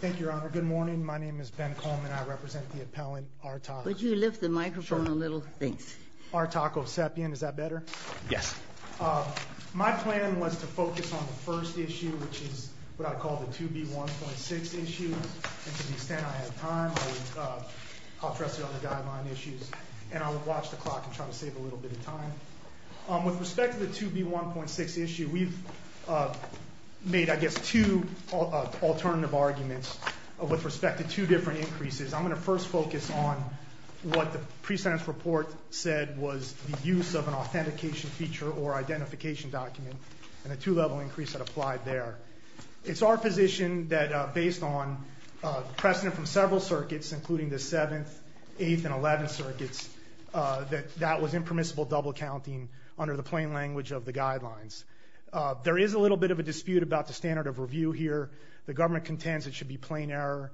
Thank you, Your Honor. Good morning. My name is Ben Coleman. I represent the appellant Artak. Would you lift the microphone a little? Thanks. Artak Ovsepian. Is that better? Yes. My plan was to focus on the first issue, which is what I call the 2B1.6 issue. And to the extent I have time, I'll address the other guideline issues, and I'll watch the clock and try to save a little bit of time. With respect to the 2B1.6 issue, we've made, I guess, two alternative arguments with respect to two different increases. I'm going to first focus on what the pre-sentence report said was the use of an authentication feature or identification document and a two-level increase that applied there. It's our position that based on precedent from several circuits, including the 7th, 8th, and 11th circuits, that that was a mistake. There is a little bit of a dispute about the standard of review here. The government contends it should be plain error.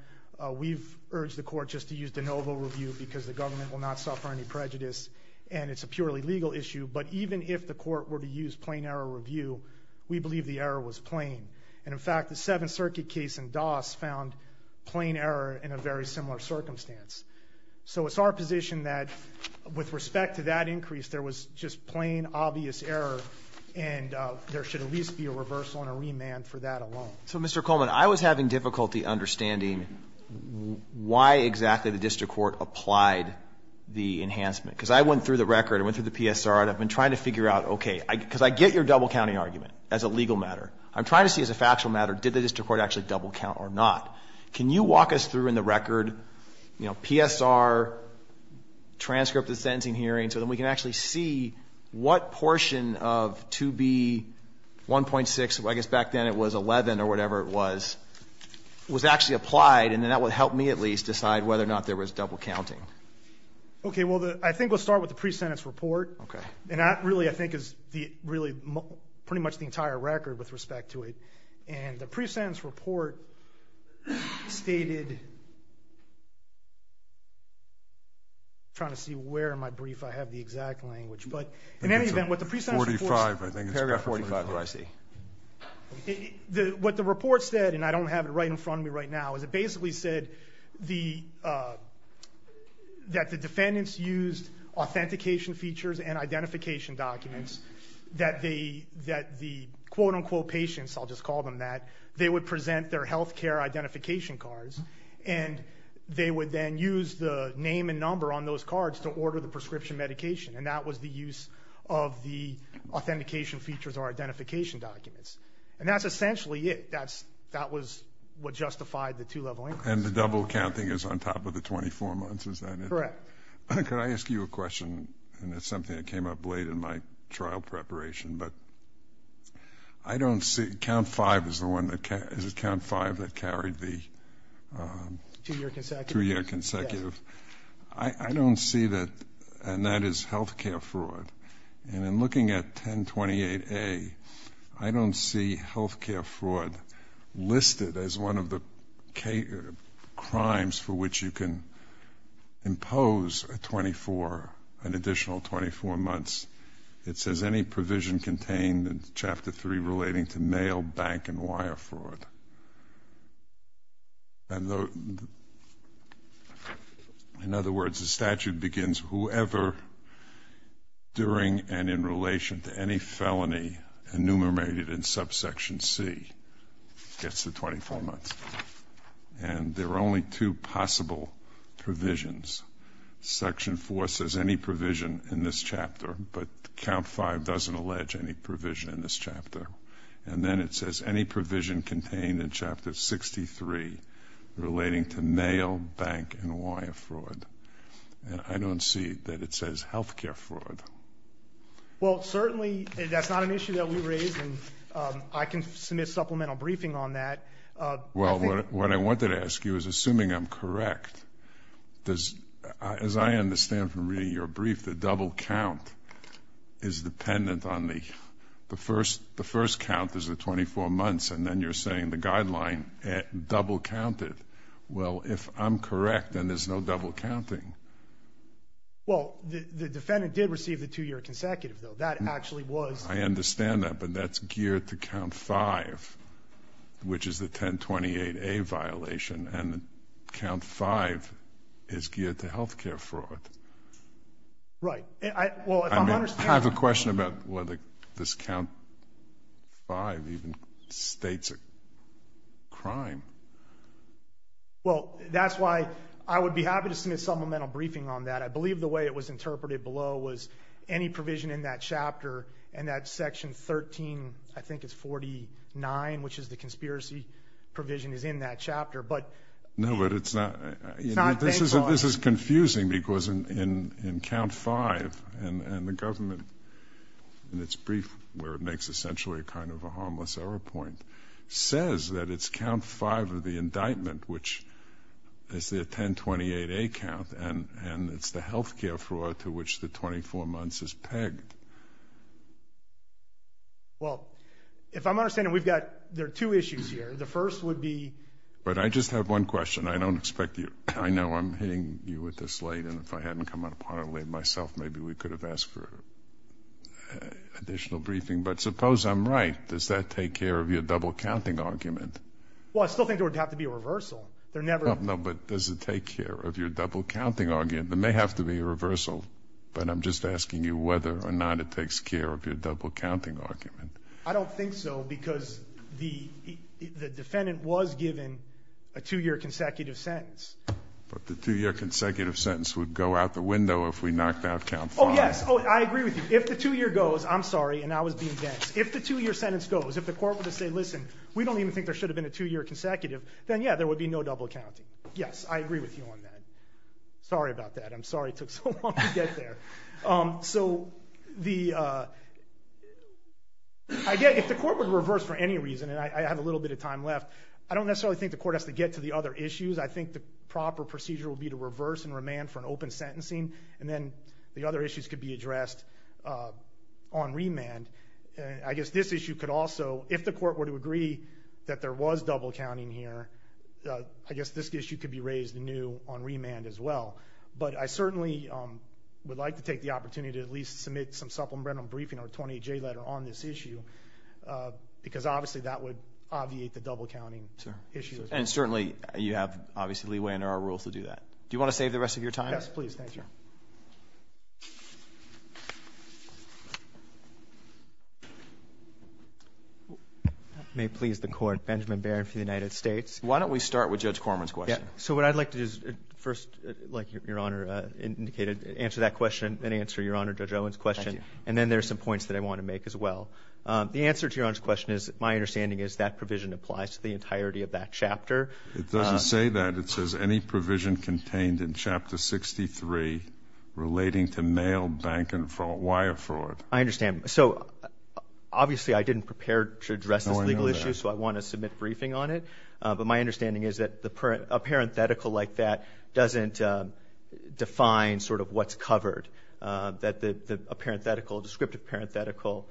We've urged the court just to use de novo review because the government will not suffer any prejudice and it's a purely legal issue. But even if the court were to use plain error review, we believe the error was plain. And in fact, the 7th Circuit case in Doss found plain error in a very similar circumstance. So it's our position that with respect to that increase, there was just plain obvious error and there should at least be a reversal and a remand for that alone. So, Mr. Coleman, I was having difficulty understanding why exactly the district court applied the enhancement. Because I went through the record, I went through the PSR, and I've been trying to figure out, okay, because I get your double counting argument as a legal matter. I'm trying to see as a factual matter, did the district court actually double count or not? Can you walk us through in the record, you know, PSR, transcript of the sentencing hearing, so that we can actually see what portion of 2B 1.6, I guess back then it was 11 or whatever it was, was actually applied. And then that would help me at least decide whether or not there was double counting. Okay, well, I think we'll start with the pre-sentence report. And that really, I think, is really pretty much the entire record with respect to it. And the But in any event, what the pre-sentence report said, and I don't have it right in front of me right now, is it basically said that the defendants used authentication features and identification documents, that the quote-unquote patients, I'll just call them that, they would present their healthcare identification cards, and they would then use the name and number on those cards to order the prescription medication. And that was the use of the authentication features or identification documents. And that's essentially it. That was what justified the two-level increase. And the double counting is on top of the 24 months, is that it? Correct. Could I ask you a question? And it's something that came up late in my trial preparation, but I don't see, count five is the one that, is it count five that carried the two-year consecutive? I don't see that, and that is healthcare fraud. And in looking at 1028A, I don't see healthcare fraud listed as one of the crimes for which you can impose an additional 24 months. It says any provision contained in Chapter 3 relating to mail, bank, and wire fraud. And in other words, the statute begins whoever during and in relation to any felony enumerated in subsection C gets the 24 months. And there are only two possible provisions. Section four says any provision in this chapter, but count five doesn't allege any provision in this chapter. And then it says any provision contained in Chapter 63 relating to mail, bank, and wire fraud. And I don't see that it says healthcare fraud. Well, certainly that's not an issue that we raise, and I can submit supplemental briefing on that. Well, what I wanted to ask you is, assuming I'm correct, does, as I understand from reading your brief, the double count is dependent on the first count is the 24 months, and then you're saying the guideline double counted. Well, if I'm correct, then there's no double counting. Well, the defendant did receive the two-year consecutive, though. That actually was... I understand that, but that's geared to count five, which is the 1028A violation, and count five is geared to healthcare fraud. Right. Well, if I'm understanding... I have a question about whether this count five even states a crime. Well, that's why I would be happy to submit supplemental briefing on that. I believe the way it was interpreted below was any provision in that chapter, and that's Section 13, I think it's 49, which is the conspiracy provision is in that chapter, but... No, but it's not... It's not bank fraud. It's confusing, because in count five, and the government, in its brief, where it makes essentially a kind of a harmless error point, says that it's count five of the indictment, which is the 1028A count, and it's the healthcare fraud to which the 24 months is pegged. Well, if I'm understanding, we've got... There are two issues here. The first would be... But I just have one question. I don't expect you... I know I'm hitting you with this late, and if I hadn't come out of parliament late myself, maybe we could have asked for additional briefing. But suppose I'm right, does that take care of your double counting argument? Well, I still think there would have to be a reversal. There never... No, but does it take care of your double counting argument? There may have to be a reversal, but I'm just asking you whether or not it takes care of your double counting argument. I don't think so, because the defendant was given a two year consecutive sentence. But the two year consecutive sentence would go out the window if we knocked out count five. Oh, yes. I agree with you. If the two year goes, I'm sorry, and I was being dense. If the two year sentence goes, if the court were to say, listen, we don't even think there should have been a two year consecutive, then yeah, there would be no double counting. Yes, I agree with you on that. Sorry about that. I'm sorry it took so long to get there. So the... Again, if the court would reverse for any reason, and I have a little bit of time left, I don't necessarily think the court has to get to the other issues. I think the proper procedure would be to reverse and remand for an open sentencing, and then the other issues could be addressed on remand. I guess this issue could also, if the court were to agree that there was double counting here, I guess this issue could be raised anew on remand as well. But I certainly would like to take the opportunity to at least submit some supplemental briefing or a 28J letter on this issue, because obviously that would obviate the double counting issue. And certainly you have, obviously, leeway under our rules to do that. Do you wanna save the rest of your time? Yes, please. Thank you. May it please the court. Benjamin Barron for the United States. Why don't we start with Judge Corman's question? Yeah. So what I'd like to do is first, like Your Honor indicated, answer that question and answer Your Honor Judge Owen's question, and then there's some points that I wanna make as well. The answer to Your Honor's question is, my understanding is that provision applies to the entirety of that chapter. It doesn't say that. It says any provision contained in Chapter 63 relating to mail, bank and wire fraud. I understand. So obviously I didn't prepare to address this legal issue, so I wanna submit briefing on it. But my understanding is that a parenthetical like that doesn't define sort of what's covered. That a parenthetical, descriptive parenthetical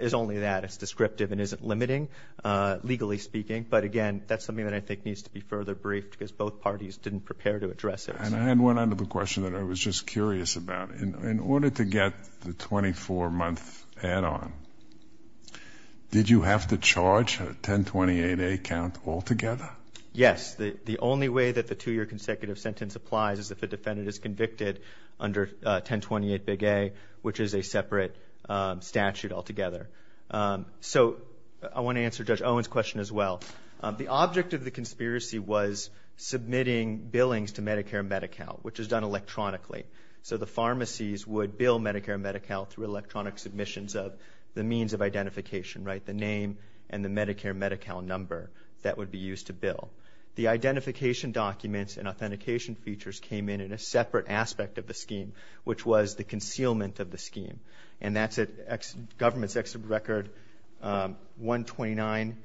is only that. It's descriptive and isn't limiting, legally speaking. But again, that's something that I think needs to be further briefed because both parties didn't prepare to address it. And I had one other question that I was just curious about. In order to get the 24 month add on, did you have to charge a 1028A count altogether? Yes. The only way that the two year consecutive sentence applies is if a defendant is convicted under 1028A, which is a separate statute altogether. So I wanna answer Judge Owen's question as well. The object of the conspiracy was submitting billings to Medicare and MediCal, which is done electronically. So the pharmacies would bill Medicare and MediCal through electronic submissions of the means of identification, right? The name and the Medicare MediCal number that would be used to bill. The identification documents and authentication features came in in a separate aspect of the scheme, which was the concealment of the scheme. And that's at government's exit record 129,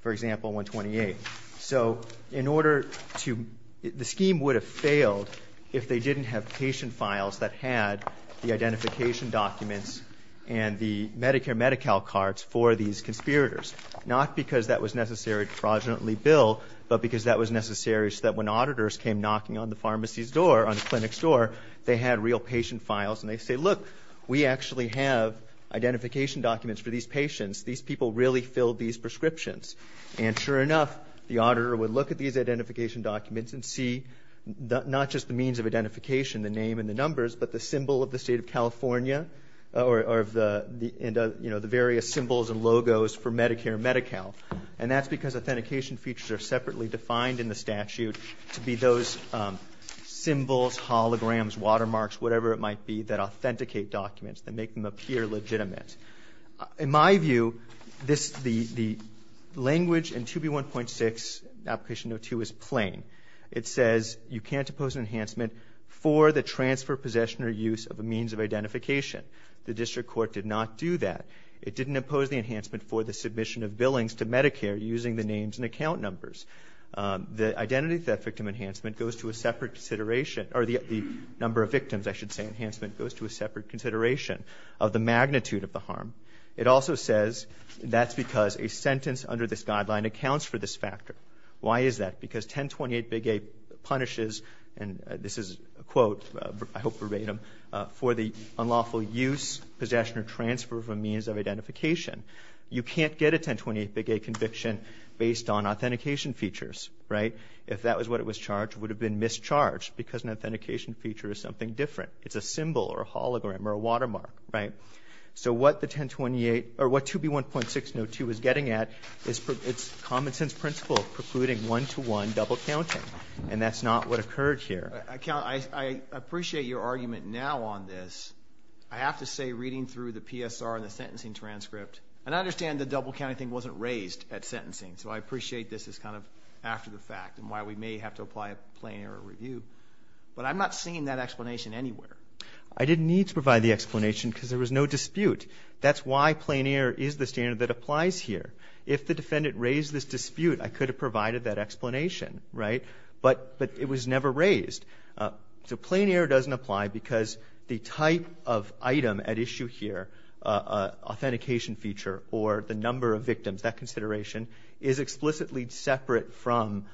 for example, 128. So in order to... The scheme would have failed if they didn't have patient files that had the identification documents and the Medicare MediCal cards for these conspirators. Not because that was necessary to fraudulently bill, but because that was necessary so that when auditors came knocking on the pharmacy's door, on the clinic's door, they had real patient files and they'd say, look, we actually have identification documents for these patients. These people really filled these prescriptions. And sure enough, the auditor would look at these identification documents and see not just the means of identification, the name and the numbers, but the symbol of the state of California or of the various symbols and logos for Medicare MediCal. And that's because authentication features are separately defined in the statute to be those symbols, holograms, watermarks, whatever it might be, that authenticate documents, that make them appear legitimate. In my view, the language in 2B1.6, Application No. 2 is plain. It says you can't impose an enhancement for the transfer, possession or use of a means of identification. The district court did not do that. It didn't impose the enhancement for the submission of billings to Medicare using the names and account numbers. The identity of that victim enhancement goes to a separate consideration, or the number of victims, I should say, enhancement goes to a separate consideration of the magnitude of the harm. It also says that's because a sentence under this guideline accounts for this factor. Why is that? Because 1028 Big A punishes, and this is a quote, I hope verbatim, for the unlawful use, possession or transfer of a means of identification. You can't get a 1028 Big A conviction based on authentication features, right? If that was what it was charged, it would have been mischarged because an authentication feature is something different. It's a symbol, or a hologram, or a watermark, right? So what the 1028, or what 2B1.6 No. 2 is getting at, it's common sense principle, precluding one-to-one double counting, and that's not what occurred here. I appreciate your argument now on this. I have to say, reading through the PSR and the sentencing transcript, and I understand the double counting thing wasn't raised at sentencing, so I appreciate this is kind of after the fact, and why we may have to apply a plain error review, but I'm not seeing that explanation anywhere. I didn't need to provide the explanation because there was no dispute. That's why plain error is the standard that applies here. If the defendant raised this dispute, I could have provided that explanation, right? But it was the point of item at issue here, authentication feature, or the number of victims, that consideration, is explicitly separate from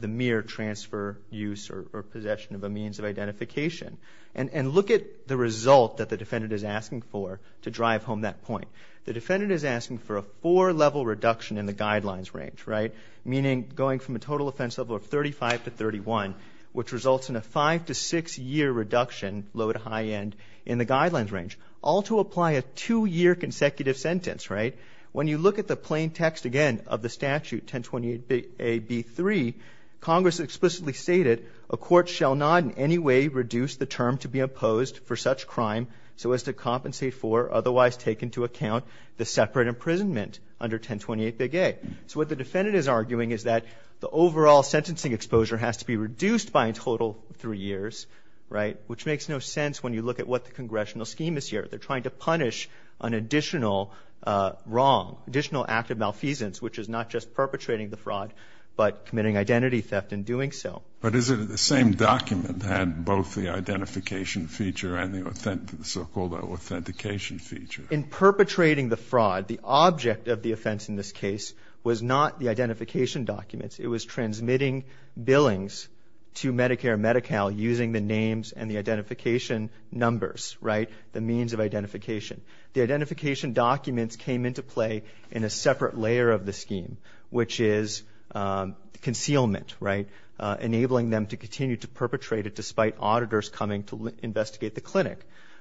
the mere transfer, use, or possession of a means of identification. And look at the result that the defendant is asking for to drive home that point. The defendant is asking for a four level reduction in the guidelines range, right? Meaning going from a total offense level of 35 to 31, which results in a five to six year reduction, low to high end, in the guidelines range, all to apply a two year consecutive sentence, right? When you look at the plain text again of the statute, 1028A.B.3, Congress explicitly stated, a court shall not in any way reduce the term to be imposed for such crime so as to compensate for, otherwise taken to account, the separate imprisonment under 1028A. So what the defendant is arguing is that the overall sentencing exposure has to be reduced by a total three years, right? Which makes no sense when you look at what the congressional scheme is here. They're trying to punish an additional wrong, additional act of malfeasance, which is not just perpetrating the fraud, but committing identity theft in doing so. But isn't it the same document that had both the identification feature and the so-called authentication feature? In perpetrating the fraud, the object of the offense in this case was not the using the names and the identification numbers, right? The means of identification. The identification documents came into play in a separate layer of the scheme, which is concealment, right? Enabling them to continue to perpetrate it despite auditors coming to investigate the clinic.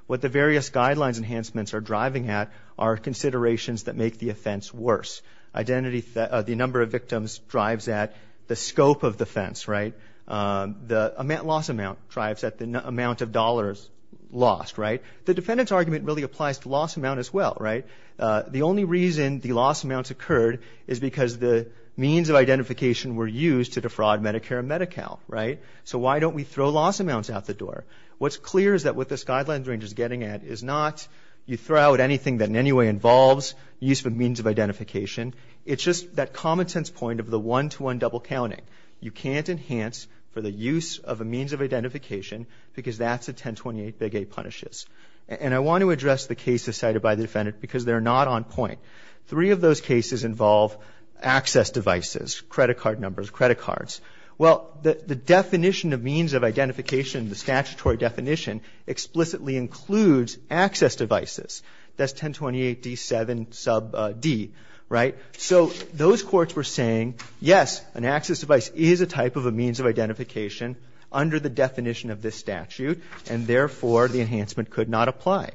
What the various guidelines enhancements are driving at are considerations that make the offense worse. The number of victims drives at the scope of the offense, right? The loss amount drives at the amount of dollars lost, right? The defendant's argument really applies to loss amount as well, right? The only reason the loss amounts occurred is because the means of identification were used to defraud Medicare and Medi-Cal, right? So why don't we throw loss amounts out the door? What's clear is that what this guidelines range is getting at is not you throw out anything that in any way involves use of means of identification. It's just that common sense point of the one-to-one double counting. You can't enhance for the use of a means of identification because that's a 1028 big A punishes. And I want to address the cases cited by the defendant because they're not on point. Three of those cases involve access devices, credit card numbers, credit cards. Well, the definition of means of identification, the statutory definition, explicitly includes access devices. That's 1028 D7 sub D, right? So those courts were saying, yes, an access device is a type of a means of identification under the definition of this statute, and therefore, the enhancement could not apply.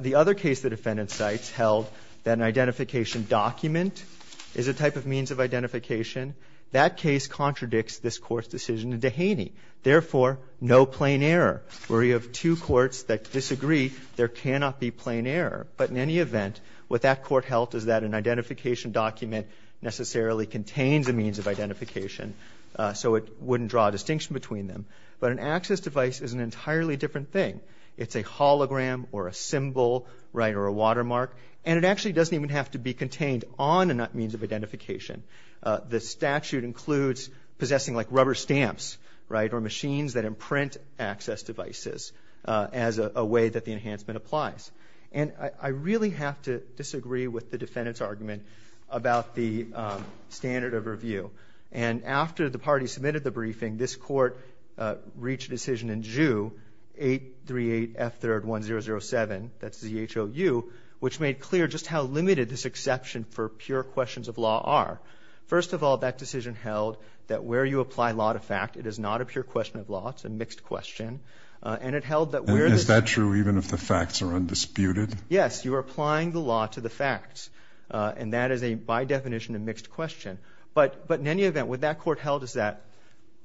The other case the defendant cites held that an identification document is a type of means of identification, that case contradicts this Court's decision in Dehaney. Therefore, no plain error, where you have two courts that disagree, there cannot be plain error. But in any event, what that court held is that an identification document necessarily contains a means of identification, so it wouldn't draw a distinction between them. But an access device is an entirely different thing. It's a hologram or a symbol, right, or a watermark. And it actually doesn't even have to be contained on a means of identification. The statute includes possessing, like, rubber stamps, right, or machines that imprint access devices as a way that the enhancement applies. And I really have to disagree with the defendant's argument about the standard of review. And after the party submitted the briefing, this Court reached a decision in Joux, 838 F3rd 1007, that's ZHOU, which made clear just how limited this exception for pure questions of law are. First of all, that decision held that where you apply law to fact, it is not a And is that true even if the facts are undisputed? Yes. You are applying the law to the facts. And that is a, by definition, a mixed question. But in any event, what that court held is that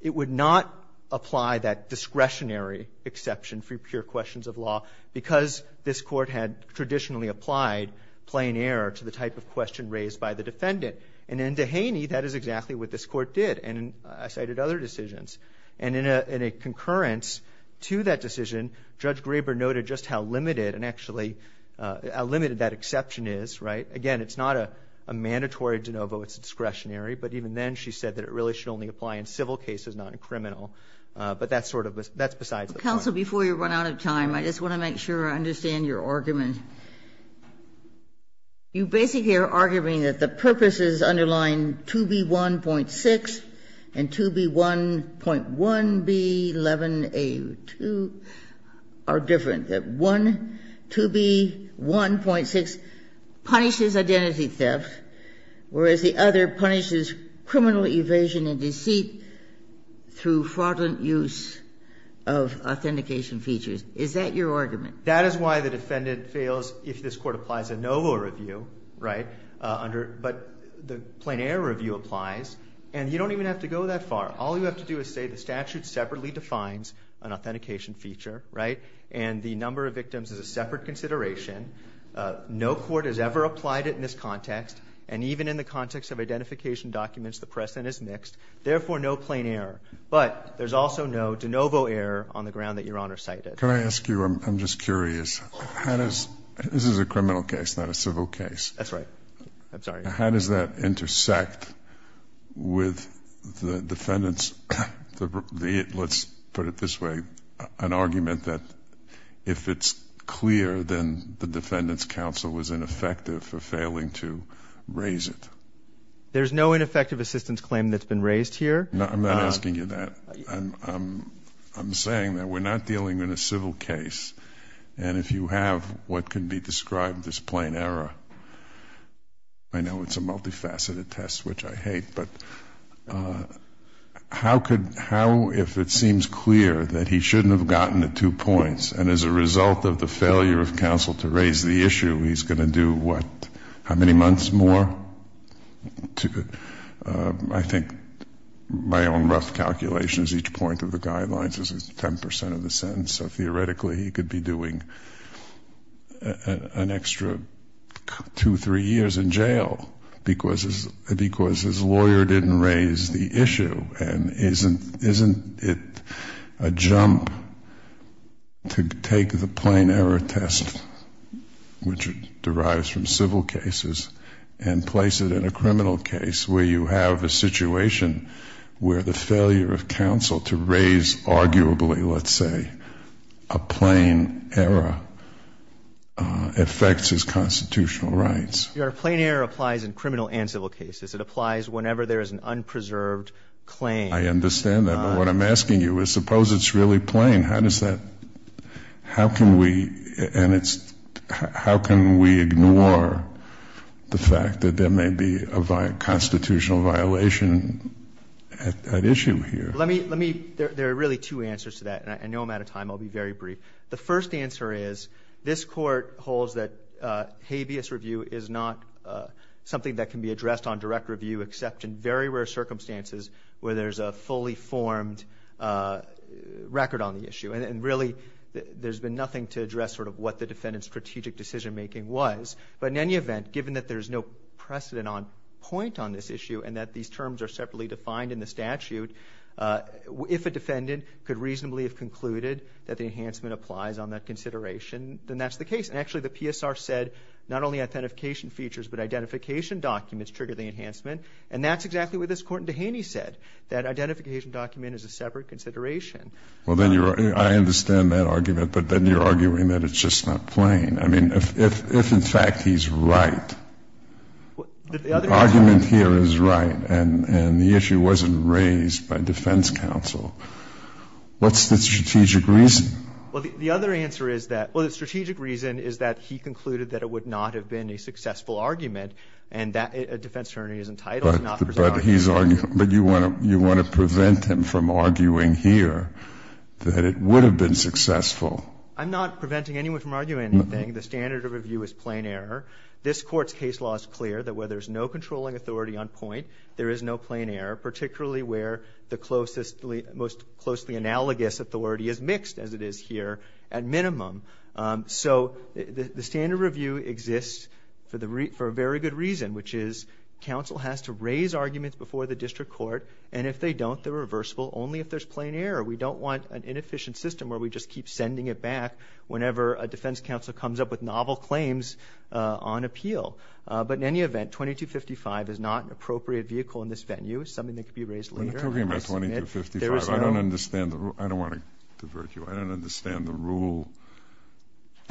it would not apply that discretionary exception for pure questions of law because this Court had traditionally applied plain error to the type of question raised by the defendant. And in Dehaney, that is exactly what this Court did. And I cited other decisions. And in a concurrence to that decision, Judge Graber noted just how limited and actually how limited that exception is, right? Again, it's not a mandatory de novo. It's discretionary. But even then, she said that it really should only apply in civil cases, not in criminal. But that's sort of a – that's besides the point. Kagan. Kagan. Counsel, before you run out of time, I just want to make sure I understand your argument. You basically are arguing that the purpose is underlying 2B1.6 and 2B1.1B11A2 are different, that one, 2B1.6, punishes identity theft, whereas the other punishes criminal evasion and deceit through fraudulent use of authentication features. Is that your argument? That is why the defendant fails if this Court applies a novo review, right, under – but the plain error review applies. And you don't even have to go that far. All you have to do is say the statute separately defines an authentication feature, right, and the number of victims is a separate consideration. No court has ever applied it in this context. And even in the context of identification documents, the precedent is mixed. Therefore, no plain error. But there's also no de novo error on the ground that Your Honor cited. Can I ask you – I'm just curious. How does – this is a criminal case, not a civil case. That's right. I'm sorry. How does that intersect with the defendant's – let's put it this way – an argument that if it's clear, then the defendant's counsel was ineffective for failing to raise it? There's no ineffective assistance claim that's been raised here. I'm not asking you that. I'm saying that we're not dealing in a civil case. And if you have what can be described as plain error – I know it's a multifaceted test, which I hate – but how could – how, if it seems clear that he shouldn't have gotten the two points, and as a result of the failure of counsel to raise the issue, he's going to do what? How many months more? I think my own rough calculation is each point of the guidelines is 10 percent of the sentence. So an extra two, three years in jail because his lawyer didn't raise the issue. And isn't it a jump to take the plain error test, which derives from civil cases, and place it in a criminal case where you have a situation where the failure of counsel affects his constitutional rights? Your Honor, plain error applies in criminal and civil cases. It applies whenever there is an unpreserved claim. I understand that. But what I'm asking you is, suppose it's really plain. How does that – how can we – and it's – how can we ignore the fact that there may be a constitutional violation at issue here? Let me – there are really two answers to that, and I know I'm out of time. I'll be very brief. The first answer is, this Court holds that habeas review is not something that can be addressed on direct review except in very rare circumstances where there's a fully formed record on the issue. And really, there's been nothing to address sort of what the defendant's strategic decision-making was. But in any event, given that there's no precedent on – point on this issue and that these terms are separately defined in the statute, if a defendant could reasonably have concluded that the enhancement applies on that consideration, then that's the case. And actually, the PSR said not only identification features but identification documents trigger the enhancement, and that's exactly what this Court in Dehaney said, that identification document is a separate consideration. Well, then you're – I understand that argument, but then you're arguing that it's just not plain. I mean, if in fact he's right, the argument here is right and the issue wasn't raised by defense counsel, what's the strategic reason? Well, the other answer is that – well, the strategic reason is that he concluded that it would not have been a successful argument and that a defense attorney is entitled to not present an argument. But he's – but you want to prevent him from arguing here that it would have been successful. I'm not preventing anyone from arguing anything. The standard of review is plain error. This Court's case law is clear that where there's no controlling authority on point, there is no plain error, particularly where the closest – most closely analogous authority is mixed, as it is here, at minimum. So the standard of review exists for a very good reason, which is counsel has to raise arguments before the district court, and if they don't, they're reversible only if there's plain error. We don't want an inefficient system where we just keep sending it back whenever a defense counsel comes up with novel claims on appeal. But in any event, 2255 is not an appropriate vehicle in this venue. It's something that could be raised later. When you're talking about 2255, I don't understand the – I don't want to divert you. I don't understand the rule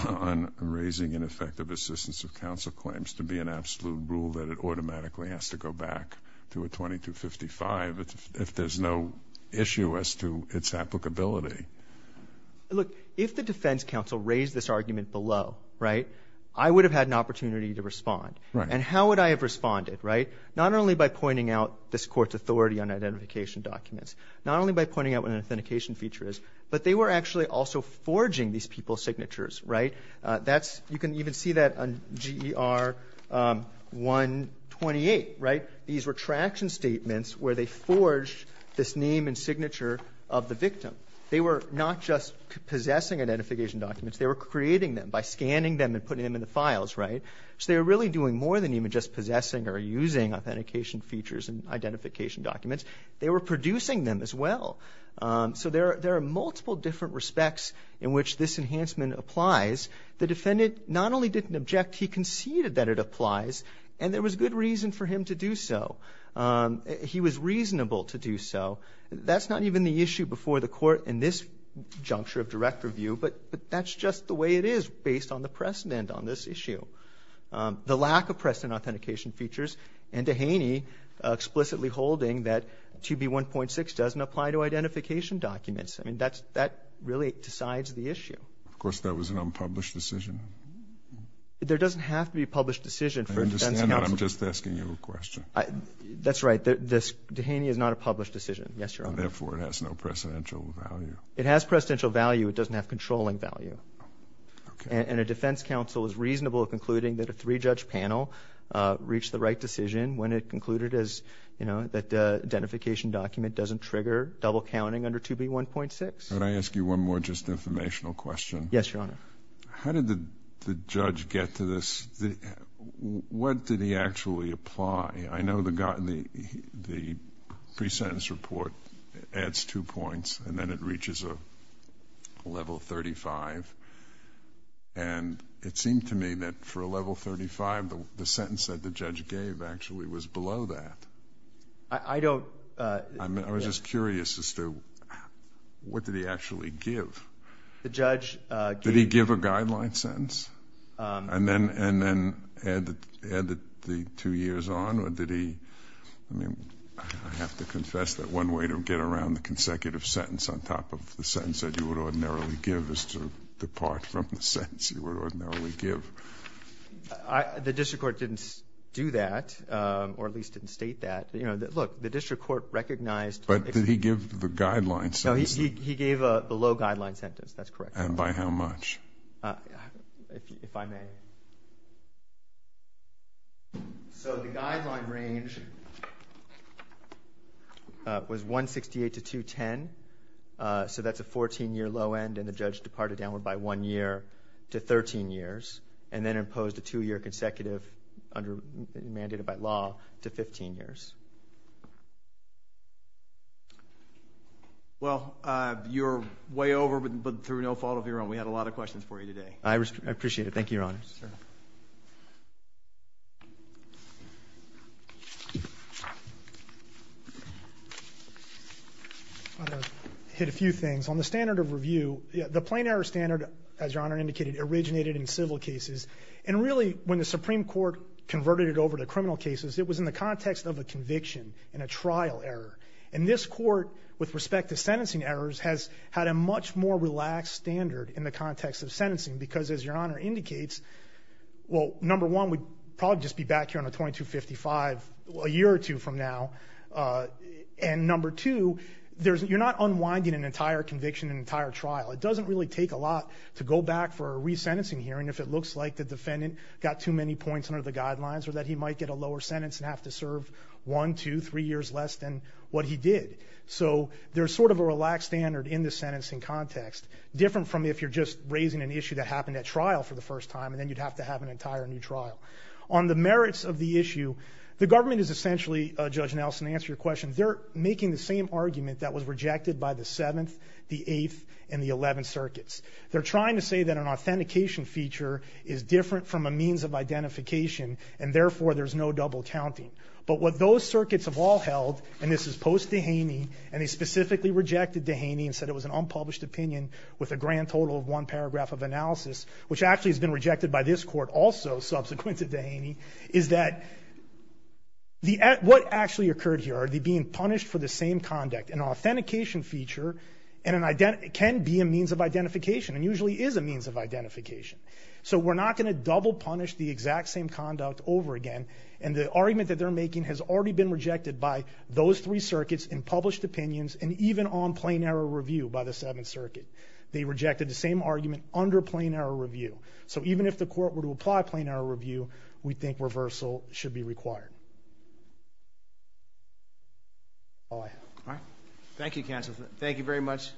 on raising ineffective assistance of counsel claims to be an absolute rule that it automatically has to go back to a 2255 if there's no issue as to its applicability. Look, if the defense counsel raised this argument below, right, I would have had an opportunity to respond. Right. And how would I have responded, right? Not only by pointing out this Court's authority on identification documents. Not only by pointing out what an authentication feature is, but they were actually also forging these people's signatures, right? That's – you can even see that on GER 128, right? These were traction statements where they forged this name and signature of the defendant. They were not just possessing identification documents. They were creating them by scanning them and putting them in the files, right? So they were really doing more than even just possessing or using authentication features and identification documents. They were producing them as well. So there are multiple different respects in which this enhancement applies. The defendant not only didn't object, he conceded that it applies, and there was good reason for him to do so. He was reasonable to do so. That's not even the issue before the Court in this juncture of direct review, but that's just the way it is based on the precedent on this issue. The lack of precedent authentication features and Dehaney explicitly holding that 2B1.6 doesn't apply to identification documents. I mean, that really decides the issue. Of course, that was an unpublished decision. There doesn't have to be a published decision for the defense counsel. I understand that. I'm just asking you a question. That's right. Dehaney is not a published decision. Yes, Your Honor. Therefore, it has no precedential value. It has precedential value. It doesn't have controlling value. And a defense counsel is reasonable in concluding that a three-judge panel reached the right decision when it concluded that the identification document doesn't trigger double counting under 2B1.6. Can I ask you one more just informational question? Yes, Your Honor. How did the judge get to this? What did he actually apply? I know the pre-sentence report adds two points, and then it reaches a level 35. And it seemed to me that for a level 35, the sentence that the judge gave actually was below that. I don't... I was just curious as to what did he actually give? The judge gave... Did he give a guideline sentence? And then add the two years on, or did he... I mean, I have to confess that one way to get around the consecutive sentence on top of the sentence that you would ordinarily give is to depart from the sentence you would ordinarily give. The district court didn't do that, or at least didn't state that. Look, the district court recognized... But did he give the guideline sentence? No, he gave the low guideline sentence. That's correct. And by how much? If I may. So the guideline range was 168 to 210. So that's a 14-year low end, and the judge departed downward by one year to 13 years, and then imposed a two-year consecutive mandated by law to 15 years. Well, you're way over, but through no fault of your own. We had a lot of questions for you today. I appreciate it. Thank you, Your Honor. Sure. I want to hit a few things. On the standard of review, the plain error standard, as Your Honor indicated, originated in civil cases. And really, when the Supreme Court converted it over to criminal cases, it was in the context of a conviction and a trial error. And this court, with respect to sentencing errors, has had a much more significant impact in the context of sentencing because, as Your Honor indicates, well, number one, we'd probably just be back here on a 2255 a year or two from now. And number two, you're not unwinding an entire conviction, an entire trial. It doesn't really take a lot to go back for a resentencing hearing if it looks like the defendant got too many points under the guidelines or that he might get a lower sentence and have to serve one, two, three years less than what he did. So there's sort of a relaxed standard in the sentencing context, different from if you're just raising an issue that happened at trial for the first time, and then you'd have to have an entire new trial. On the merits of the issue, the government is essentially, Judge Nelson, to answer your question, they're making the same argument that was rejected by the 7th, the 8th, and the 11 circuits. They're trying to say that an authentication feature is different from a means of identification, and therefore there's no double counting. But what those circuits have all held, and this is post-Dehaney, and they specifically rejected Dehaney and said it was an unpublished opinion with a grand total of one paragraph of analysis, which actually has been rejected by this Court also, subsequent to Dehaney, is that what actually occurred here, are they being punished for the same conduct? An authentication feature can be a means of identification and usually is a means of identification. So we're not going to double punish the exact same conduct over again, and the argument that they're making has already been rejected by those three circuits and published opinions and even on plain error review by the 7th Circuit. They rejected the same argument under plain error review. So even if the Court were to apply plain error review, we think reversal should be required. That's all I have. All right. Thank you, counsel. Thank you very much,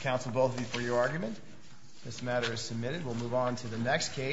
counsel, both of you, for your argument. This matter is submitted. We'll move on to the next case.